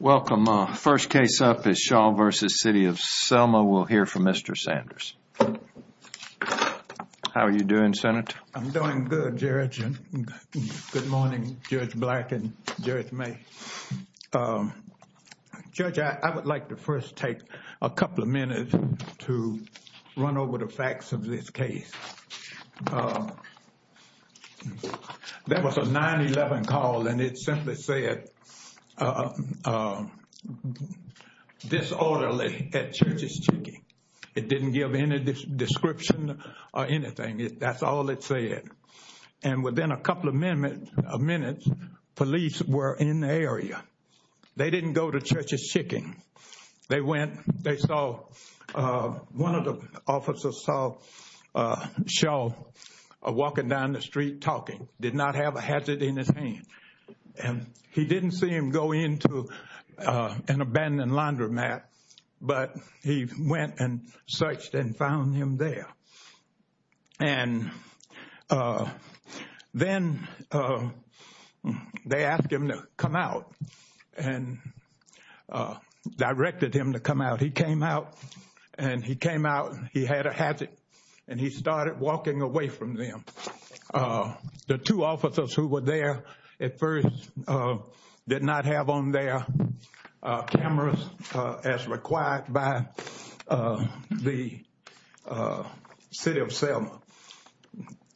Welcome. First case up is Shaw v. City of Selma. We'll hear from Mr. Sanders. How are you doing, Senator? I'm doing good, Judge. Good morning, Judge Black and Judge May. Judge, I would like to first take a couple of minutes to run over the facts of this case. There was a 911 call and it simply said disorderly at Church's Chicken. It didn't give any description or anything. That's all it said. And within a couple of minutes, police were in the area. They didn't go to Church's Chicken. They went, they saw, one of the officers saw Shaw walking down the street talking, did not have a hazard in his hand. And he didn't see him go into an abandoned laundromat, but he went and searched and found him there. And then they asked him to come out and directed him to come out. He came out and he came out and he had a hazard and he started walking away from them. The two officers who were there at first did not have on their cameras as required by the City of Selma.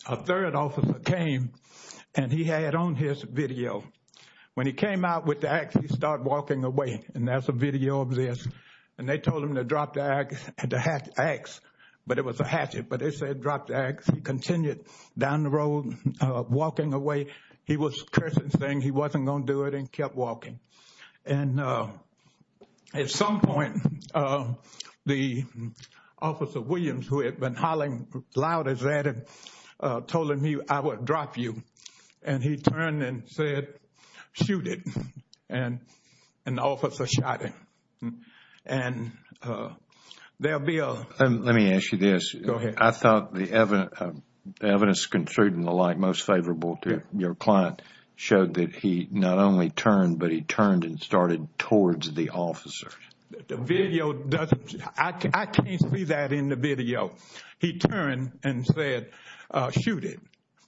A third officer came and he had on his video. When he came out with the axe, he started walking away. And that's a video of this. And they told him to drop the axe, but it was a hatchet. But they said drop the axe. He continued down the road, walking away. He was cursing, saying he wasn't going to do it and kept walking. And at some point, the officer Williams, who had been hollering loud as that, told him, I will drop you. And he turned and said, shoot it. And the officer shot him. And there'll be a... Let me ask you this. Go ahead. I thought the evidence, the evidence construed in the light most favorable to your client showed that he not only turned, but he turned and started towards the officer. The video doesn't... I can't see that in the video. He turned and said, shoot it.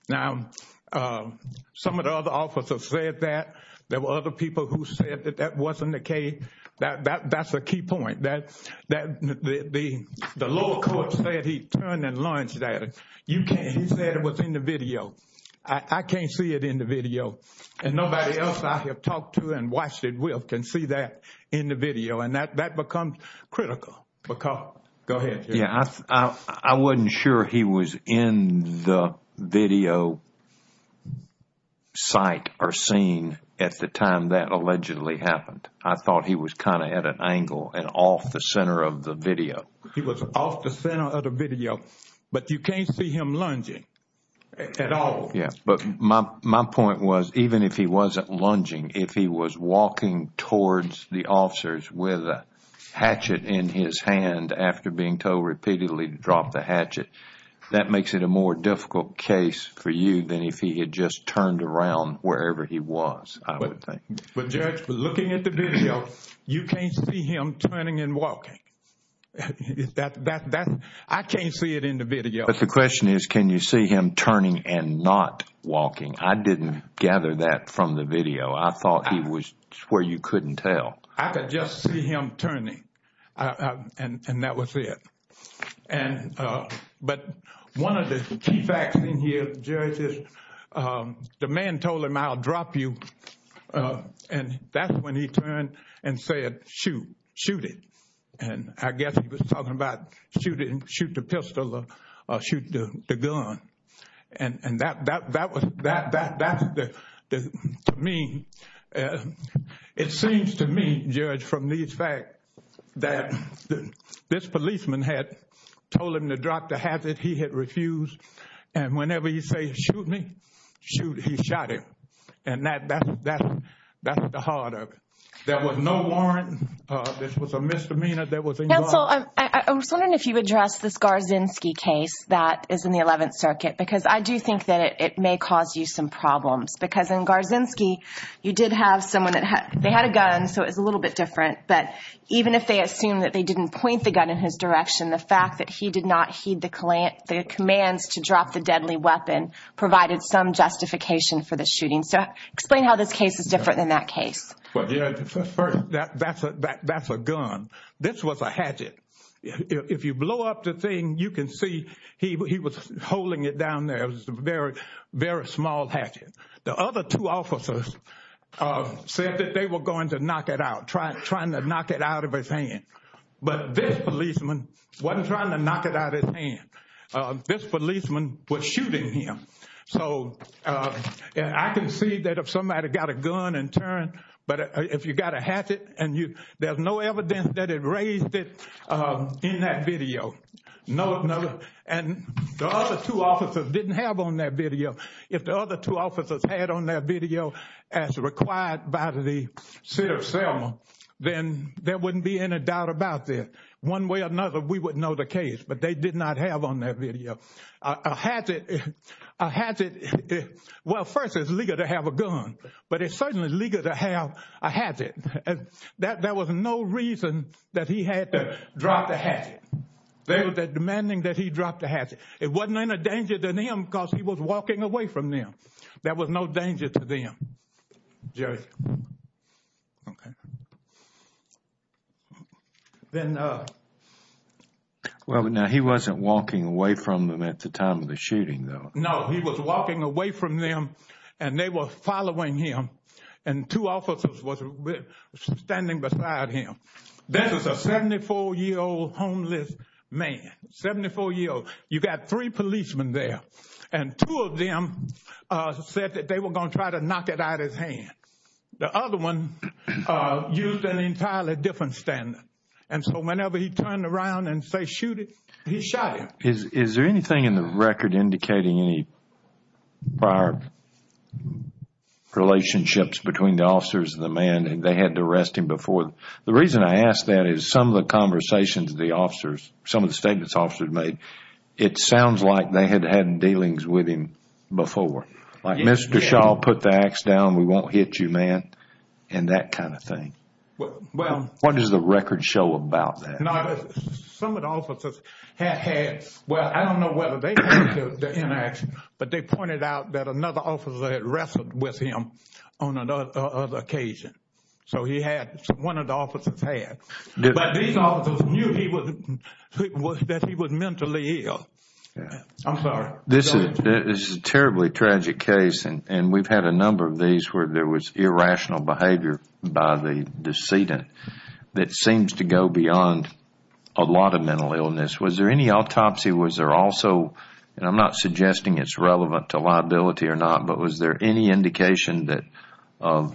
Now, some of the other officers said that. There were other people who said that that wasn't the case. That's a key point. The lower court said he turned and launched at it. You can't... He said it was in the video. I can't see it in the video. And nobody else I have talked to and watched it with can see that in the video. And that becomes critical because... Go ahead. Yeah. I wasn't sure he was in the video sight or seen at the time that allegedly happened. I thought he was kind of at an angle and off the center of the video. He was off the center of the video, but you can't see him lunging at all. But my point was, even if he wasn't lunging, if he was walking towards the officers with a hatchet in his hand after being told repeatedly to drop the hatchet, that makes it a more difficult case for you than if he had just turned around wherever he was, I would think. But Judge, looking at the video, you can't see him turning and walking. I can't see it in the video. The question is, can you see him turning and not walking? I didn't gather that from the video. I thought he was where you couldn't tell. I could just see him turning and that was it. But one of the key facts in here, Judge, is the man told him, I'll drop you. And that's when he turned and said, shoot, shoot it. And I guess he was talking about shoot the pistol or shoot the gun. And that, to me, it seems to me, Judge, from these facts that this policeman had told him to drop the hatchet, he had refused. And whenever he said, shoot me, shoot, he shot him. And that's the heart of it. There was no warrant. This was a misdemeanor. Counsel, I was wondering if you address this Garzinski case that is in the 11th Circuit, because I do think that it may cause you some problems. Because in Garzinski, you did have someone that they had a gun. So it's a little bit different. But even if they assume that they didn't point the gun in his direction, the fact that he did not heed the commands to drop the deadly weapon provided some justification for the shooting. So explain how this case is different than that case. That's a gun. This was a hatchet. If you blow up the thing, you can see he was holding it down there. It was a very, very small hatchet. The other two officers said that they were going to knock it out, trying to knock it out of his hand. But this policeman wasn't trying to knock it out of his hand. This policeman was shooting him. So I can see that if somebody got a gun and turned, but if you got a hatchet and there's no evidence that it raised it in that video, and the other two officers didn't have on that video, if the other two officers had on that video as required by the city of Selma, then there wouldn't be any doubt about this. One way or another, we would know the case. But they did not have on that video a hatchet. Well, first, it's legal to have a gun. But it's certainly legal to have a hatchet. There was no reason that he had to drop the hatchet. They were demanding that he drop the hatchet. It wasn't in a danger to them because he was walking away from them. There was no danger to them. Now, he wasn't walking away from them at the time of the shooting, though. No, he was walking away from them and they were following him. And two officers were standing beside him. This is a 74-year-old homeless man. 74-year-old. You got three policemen there. And two of them said that they were going to try to knock it out of his hand. The other one used an entirely different standard. And so whenever he turned around and say, shoot it, he shot him. Is there anything in the record indicating any prior relationships between the officers and the man and they had to arrest him before? The reason I ask that is some of the conversations the officers, some of the statements officers made, it sounds like they had had dealings with him before. Like, Mr. Shaw, put the axe down, we won't hit you, man. And that kind of thing. What does the record show about that? Some of the officers have had, well, I don't know whether they took the inaction, but they pointed out that another officer had wrestled with him on another occasion. So he had, one of the officers had. But these officers knew that he was mentally ill. I'm sorry. This is a terribly tragic case. And we've had a number of these where there was irrational behavior by the decedent that seems to go beyond a lot of mental illness. Was there any autopsy? Was there also, and I'm not suggesting it's relevant to liability or not, but was there any indication that of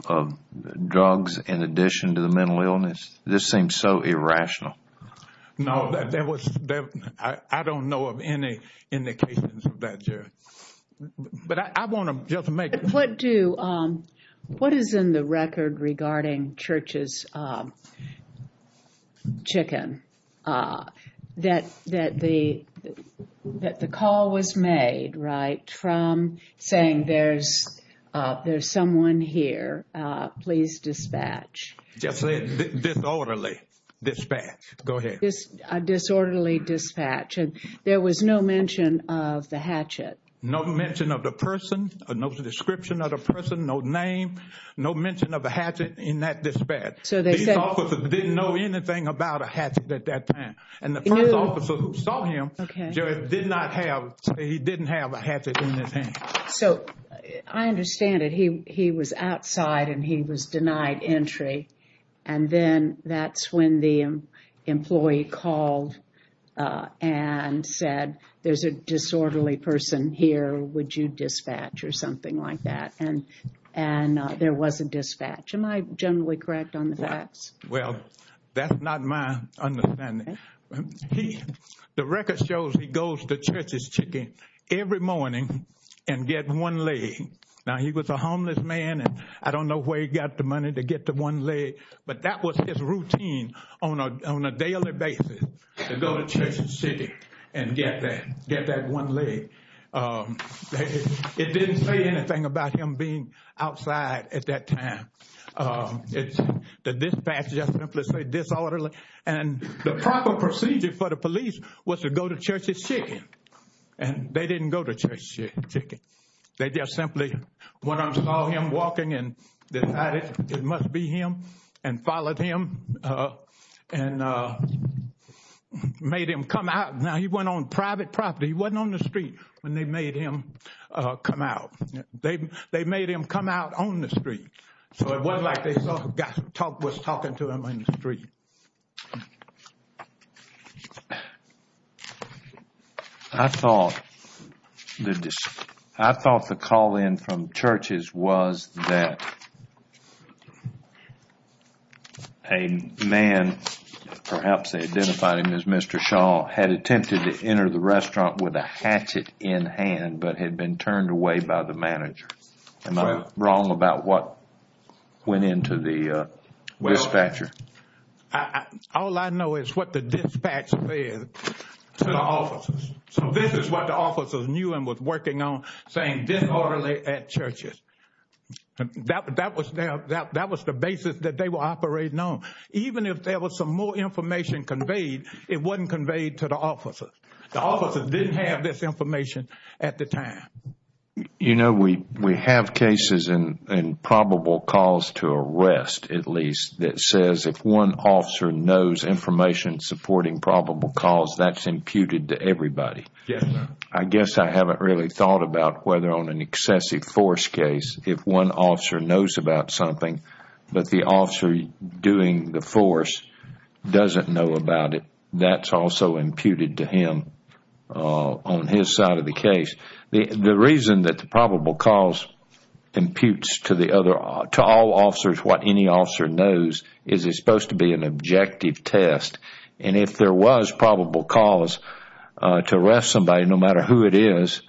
drugs in addition to the mental illness? This seems so irrational. No, there was, I don't know of any indications of that, Jerry. But I want to just make. What do, what is in the record regarding Church's chicken? That the call was made, right, from saying there's someone here, please dispatch. Just say disorderly dispatch. Go ahead. Disorderly dispatch. And there was no mention of the hatchet. No mention of the person. No description of the person. No name. No mention of a hatchet in that dispatch. So these officers didn't know anything about a hatchet at that time. And the first officer who saw him, Jerry, did not have, he didn't have a hatchet in his hand. So I understand it. He was outside and he was denied entry. And then that's when the employee called and said, there's a disorderly person here. Would you dispatch or something like that? And there was a dispatch. Am I generally correct on the facts? Well, that's not my understanding. The record shows he goes to Church's chicken every morning and get one leg. Now he was a homeless man and I don't know where he got the money to get the one leg. But that was his routine on a daily basis to go to Church's chicken and get that one leg. It didn't say anything about him being outside at that time. The dispatch just simply said disorderly. And the proper procedure for the police was to go to Church's chicken. They just simply went and saw him walking and decided it must be him and followed him and made him come out. Now he went on private property. He wasn't on the street when they made him come out. They made him come out on the street. So it wasn't like they saw a guy was talking to him on the street. I thought the call in from Church's was that a man, perhaps they identified him as Mr. Shaw, had attempted to enter the restaurant with a hatchet in hand, but had been turned away by the manager. Am I wrong about what went into the dispatcher? All I know is what the dispatcher said to the officers. So this is what the officers knew and was working on, saying disorderly at Church's. That was the basis that they were operating on. Even if there was some more information conveyed, it wasn't conveyed to the officers. The officers didn't have this information at the time. You know, we have cases in probable cause to arrest, at least, that says if one officer knows information supporting probable cause, that's imputed to everybody. I guess I haven't really thought about whether on an excessive force case, if one officer knows about something, but the officer doing the force doesn't know about it, that's also imputed to him on his side of the case. The reason that the probable cause imputes to all officers what any officer knows is it's supposed to be an objective test. And if there was probable cause to arrest somebody, no matter who it is,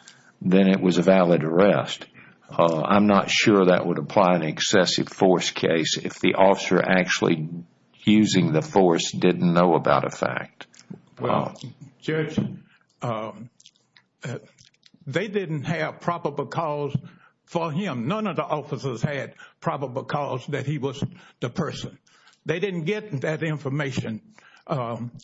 then it was a valid arrest. I'm not sure that would apply in an excessive force case if the officer actually using the force didn't know about a fact. Well, Judge, they didn't have probable cause for him. None of the officers had probable cause that he was the person. They didn't get that information.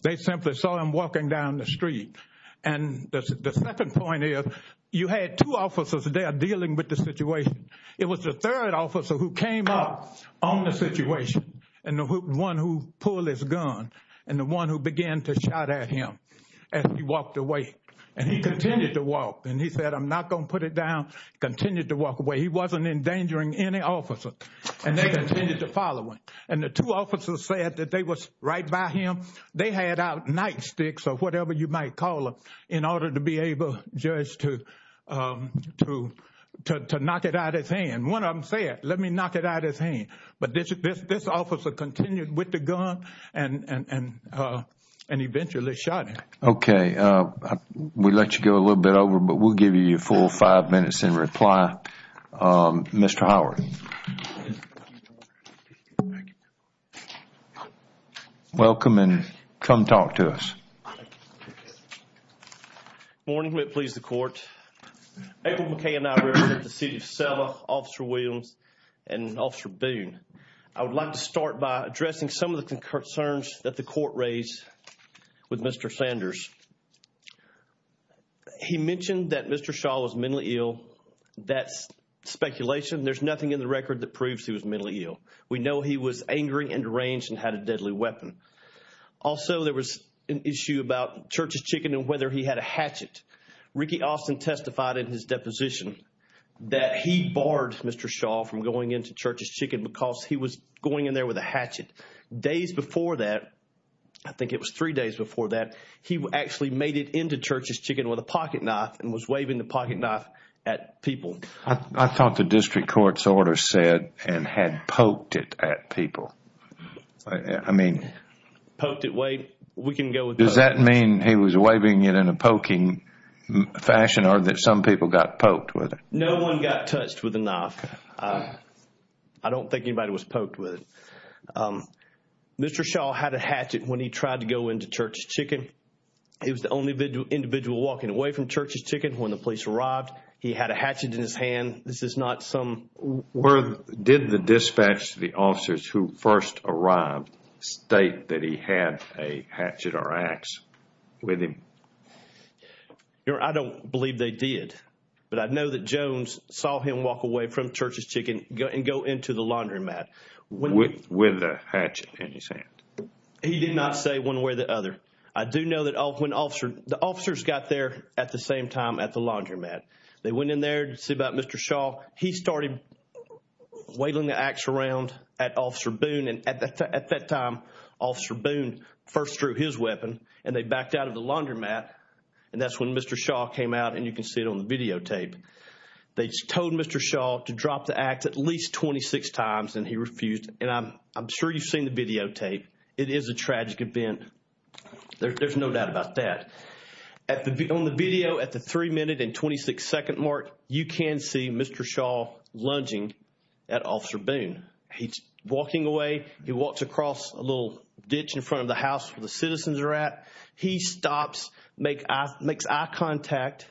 They simply saw him walking down the street. And the second point is, you had two officers there dealing with the situation. It was the third officer who came up on the situation, and the one who pulled his gun, and the one who began to shout at him as he walked away. And he continued to walk. And he said, I'm not going to put it down. Continued to walk away. He wasn't endangering any officer. And they continued to follow him. And the two officers said that they was right by him. They had out nightsticks or whatever you might call them in order to be able, Judge, to knock it out of his hand. One of them said, let me knock it out of his hand. But this officer continued with the gun and eventually shot him. Okay. We let you go a little bit over, but we'll give you your full five minutes in reply. Mr. Howard. Welcome and come talk to us. Morning. May it please the court. April McKay and I represent the city of Selma, Officer Williams, and Officer Boone. I would like to start by addressing some of the concerns that the court raised with Mr. Sanders. He mentioned that Mr. Shaw was mentally ill. That's speculation. There's nothing in the record that proves he was mentally ill. We know he was angry and deranged and had a deadly weapon. Also, there was an issue about Church's Chicken and whether he had a hatchet. Ricky Austin testified in his deposition that he barred Mr. Shaw from going into Church's Chicken because he was going in there with a hatchet. Days before that, I think it was three days before that, he actually made it into Church's Chicken with a pocket knife and was waving the pocket knife at people. I thought the district court's order said and had poked it at people. I mean... Poked it way... We can go with that. Does that mean he was waving it in a poking fashion or that some people got poked with it? No one got touched with the knife. I don't think anybody was poked with it. Mr. Shaw had a hatchet when he tried to go into Church's Chicken. He was the only individual walking away from Church's Chicken when the police arrived. He had a hatchet in his hand. This is not some... Did the dispatch to the officers who first arrived state that he had a hatchet or axe with him? I don't believe they did, but I know that Jones saw him walk away from Church's Chicken and go into the laundromat. With a hatchet in his hand. He did not say one way or the other. I do know that when the officers got there at the same time at the laundromat, they went in there to see about Mr. Shaw. He started waving the axe around at Officer Boone and at that time Officer Boone first drew his weapon and they backed out of the laundromat. And that's when Mr. Shaw came out and you can see it on the videotape. They told Mr. Shaw to drop the axe at least 26 times and he refused. And I'm sure you've seen the videotape. It is a tragic event. There's no doubt about that. On the video at the three minute and 26 second mark, you can see Mr. Shaw lunging at Officer Boone. He's walking away. He walks across a little ditch in front of the house where the citizens are at. He stops, makes eye contact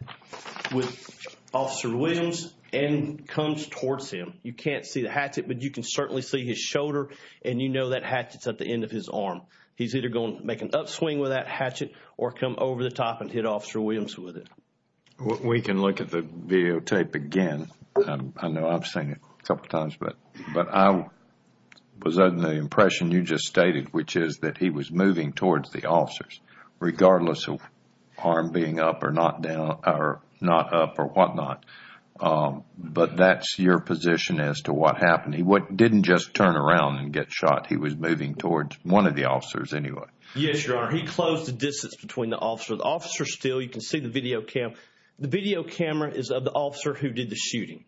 with Officer Williams and comes towards him. You can't see the hatchet, but you can certainly see his shoulder and you know that hatchet's at the end of his arm. He's either going to make an upswing with that hatchet or come over the top and hit Officer Williams with it. We can look at the videotape again. I know I've seen it a couple of times, but I was under the impression you just stated, which is that he was moving towards the officers regardless of arm being up or not down or not up or whatnot. But that's your position as to what happened. He didn't just turn around and get shot. He was moving towards one of the officers anyway. Yes, Your Honor. He closed the distance between the officer. The officer's still, you can see the video cam. The video camera is of the officer who did the shooting.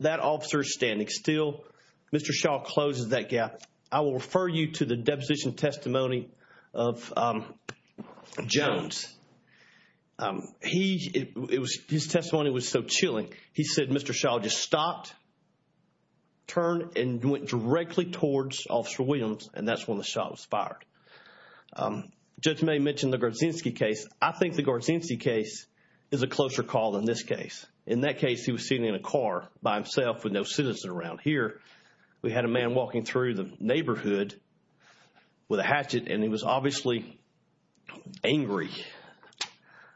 That officer's standing still. Mr. Shaw closes that gap. I will refer you to the deposition testimony of Jones. His testimony was so chilling. He said Mr. Shaw just stopped, turned and went directly towards Officer Williams and that's when the shot was fired. Judge May mentioned the Garzinski case. I think the Garzinski case is a closer call than this case. In that case, he was sitting in a car by himself with no citizen around. Here, we had a man walking through the neighborhood with a hatchet and he was obviously angry.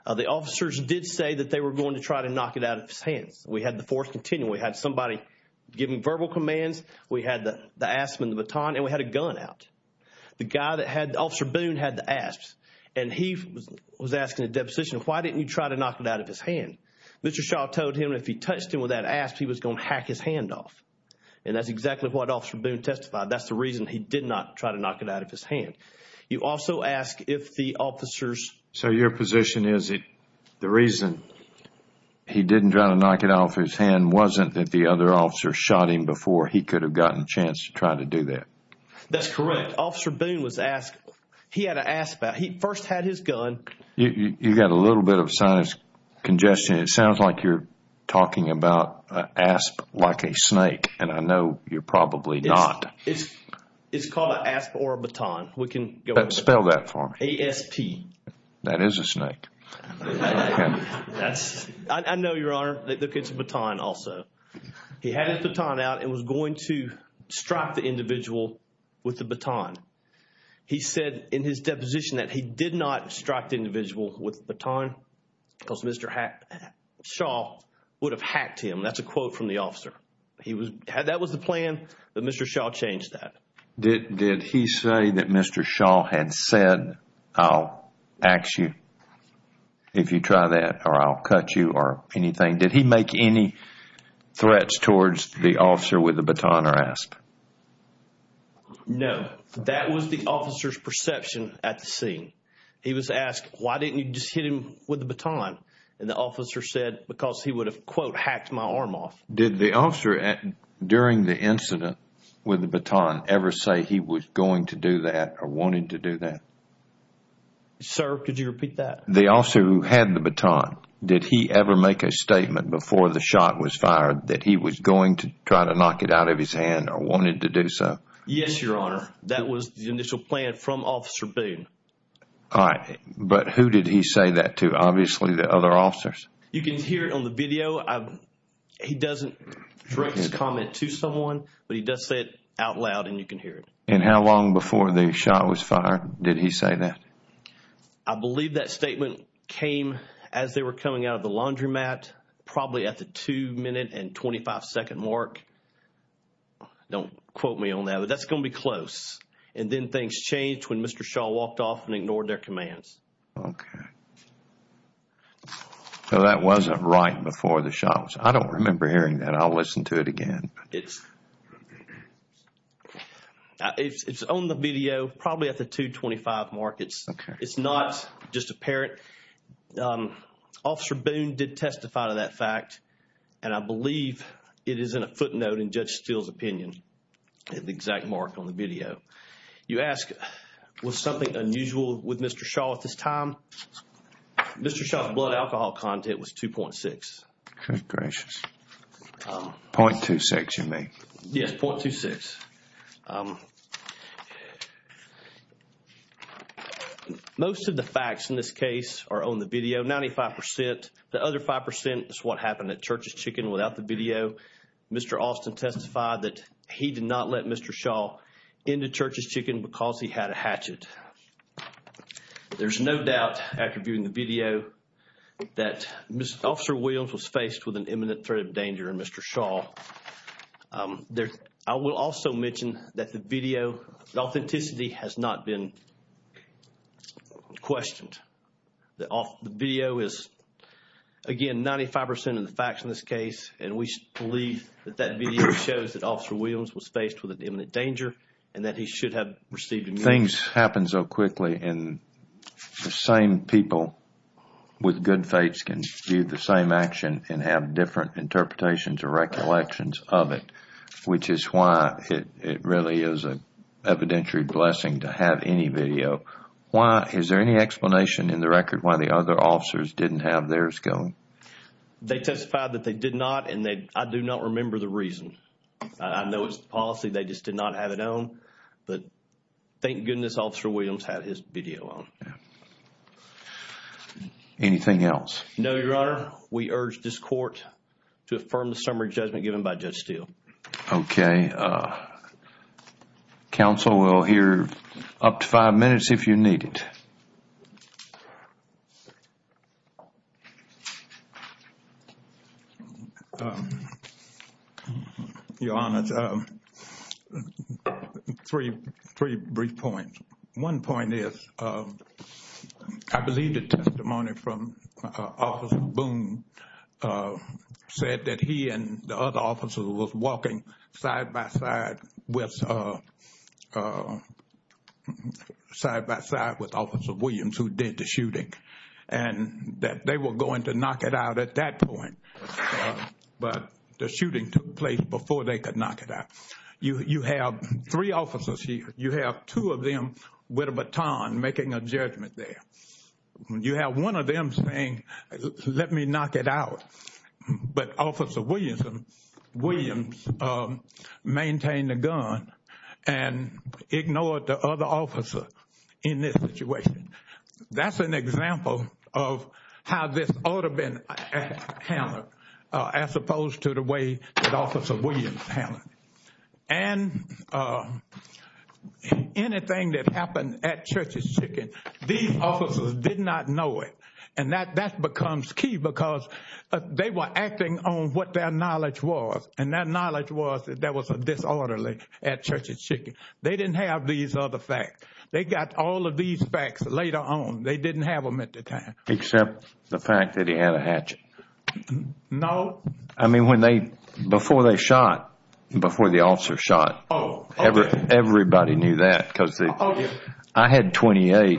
The officers did say that they were going to try to knock it out of his hands. We had the force continue. We had somebody giving verbal commands. We had the asp and the baton and we had a gun out. The guy that had, Officer Boone had the asps and he was asking the deposition, why didn't you try to knock it out of his hand? Mr. Shaw told him if he touched him with that asp, he was going to hack his hand off. And that's exactly what Officer Boone testified. That's the reason he did not try to knock it out of his hand. You also ask if the officers... So your position is that the reason he didn't try to knock it off his hand wasn't that the other officer shot him before. He could have gotten a chance to try to do that. That's correct. Officer Boone was asked. He had an asp out. He first had his gun. You got a little bit of a sign of congestion. It sounds like you're talking about asp like a snake and I know you're probably not. It's called an asp or a baton. We can go... Spell that for me. A-S-P. That is a snake. I know, Your Honor, that it's a baton also. He had his baton out and was going to strike the individual with the baton. He said in his deposition that he did not strike the individual with the baton because Mr. Shaw would have hacked him. That's a quote from the officer. That was the plan, but Mr. Shaw changed that. Did he say that Mr. Shaw had said, I'll axe you if you try that or I'll cut you or anything? Did he make any threats towards the officer with the baton or asp? No. That was the officer's perception at the scene. He was asked, why didn't you just hit him with the baton? And the officer said because he would have, quote, hacked my arm off. Did the officer during the incident with the baton ever say he was going to do that or wanted to do that? Sir, could you repeat that? The officer who had the baton, did he ever make a statement before the shot was fired that he was going to try to knock it out of his hand or wanted to do so? Yes, Your Honor. That was the initial plan from Officer Boone. All right. But who did he say that to? Obviously the other officers. You can hear it on the video. He doesn't direct his comment to someone, but he does say it out loud and you can hear it. And how long before the shot was fired did he say that? I believe that statement came as they were coming out of the laundromat, probably at the two minute and 25 second mark. Don't quote me on that, but that's going to be close. And then things changed when Mr. Shaw walked off and ignored their commands. Okay. So that wasn't right before the shot was fired. I don't remember hearing that. I'll listen to it again. It's on the video, probably at the 2.25 mark. It's not just apparent. Officer Boone did testify to that fact and I believe it is in a footnote in Judge Steele's opinion at the exact mark on the video. You ask, was something unusual with Mr. Shaw at this time? Mr. Shaw's blood alcohol content was 2.6. Good gracious. 0.26 you mean? Yes, 0.26. Most of the facts in this case are on the video, 95%. The other 5% is what happened at Church's Chicken without the video. Mr. Austin testified that he did not let Mr. Shaw into Church's Chicken because he had a hatchet. There's no doubt after viewing the video that Officer Williams was faced with an imminent threat of danger and Mr. Shaw. I will also mention that the video, the authenticity has not been questioned. The video is, again, 95% of the facts in this case and we believe that that video shows that Officer Williams was faced with an imminent danger and that he should have received immunity. Things happen so quickly and the same people with good fates can do the same action and have different interpretations or recollections of it, which is why it really is an evidentiary blessing to have any video. Is there any explanation in the record why the other officers didn't have theirs going? They testified that they did not and I do not remember the reason. I know it's the policy, they just did not have it on, but thank goodness Officer Williams had his video on. Anything else? No, Your Honor. We urge this court to affirm the summary judgment given by Judge Steele. Okay. Counsel, we'll hear up to five minutes if you need it. Your Honor, three brief points. One point is, I believe the testimony from Officer Boone said that he and the other officers were walking side by side with Officer Williams who did the shooting and that they were going to knock it out at that point, but the shooting took place before they could knock it out. You have three officers here. You have two of them with a baton making a judgment there. You have one of them saying, let me knock it out, but Officer Williams maintained the gun and ignored the other officer in this situation. That's an example of how this ought to have been handled as opposed to the way that Officer Williams handled it. And anything that happened at Church's Chicken, these officers did not know it and that becomes key because they were acting on what their knowledge was and their knowledge was that there was a disorderly at Church's Chicken. They didn't have these other facts. They got all of these facts later on. They didn't have them at the time. Except the fact that he had a hatchet. No. I mean, before they shot, before the officer shot, everybody knew that. I had 28.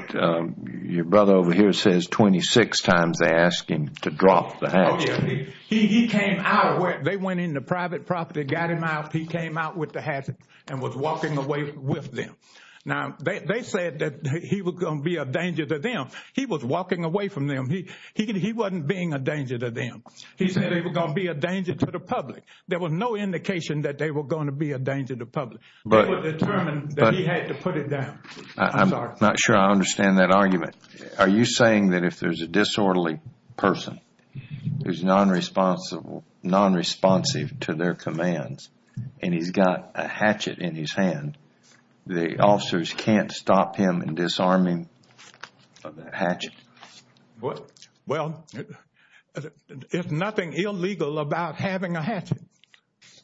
Your brother over here says 26 times they asked him to drop the hatchet. They went into private property, got him out. He came out with the hatchet and was walking away with them. Now, they said that he was going to be a danger to them. He was walking away from them. He wasn't being a danger to them. He said they were going to be a danger to the public. There was no indication that they were going to be a danger to the public. They were determined that he had to put it down. I'm not sure I understand that argument. Are you saying that if there's a disorderly person who's non-responsive to their commands and he's got a hatchet in his hand, the officers can't stop him in disarming of that hatchet? Well, there's nothing illegal about having a hatchet.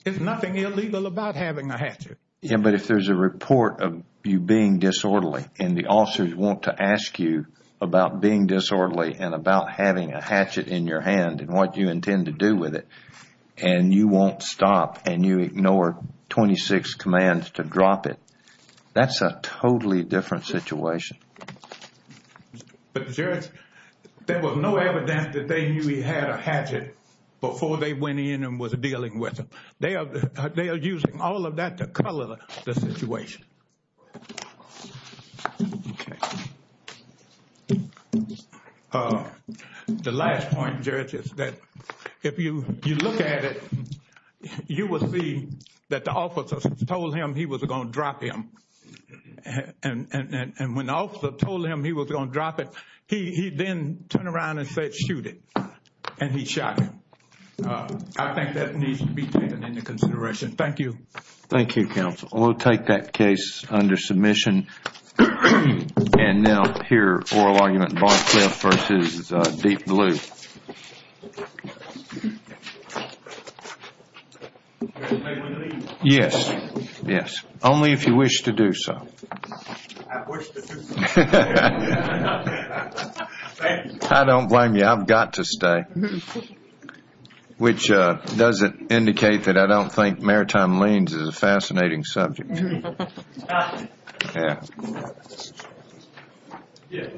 There's nothing illegal about having a hatchet. Yeah, but if there's a report of you being disorderly and the officers want to ask you about being disorderly and about having a hatchet in your hand and what you intend to do with it, and you won't stop and you ignore 26 commands to drop it, that's a totally different situation. But there was no evidence that they knew he had a hatchet before they went in and was dealing with him. They are using all of that to color the situation. Okay. The last point, Judge, is that if you look at it, you will see that the officers told him he was going to drop him. And when the officer told him he was going to drop it, he then turned around and said, shoot it. And he shot him. I think that needs to be taken into consideration. Thank you. Thank you, counsel. We'll take that case under submission. And now, here, oral argument, Barclay versus Deep Blue. Yes, yes. Only if you wish to do so. I wish to do so. I don't blame you. I've got to stay. Which doesn't indicate that I don't think maritime liens is a fascinating subject. Thank you.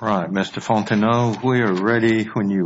All right, Mr. Fontenot, we are ready when you...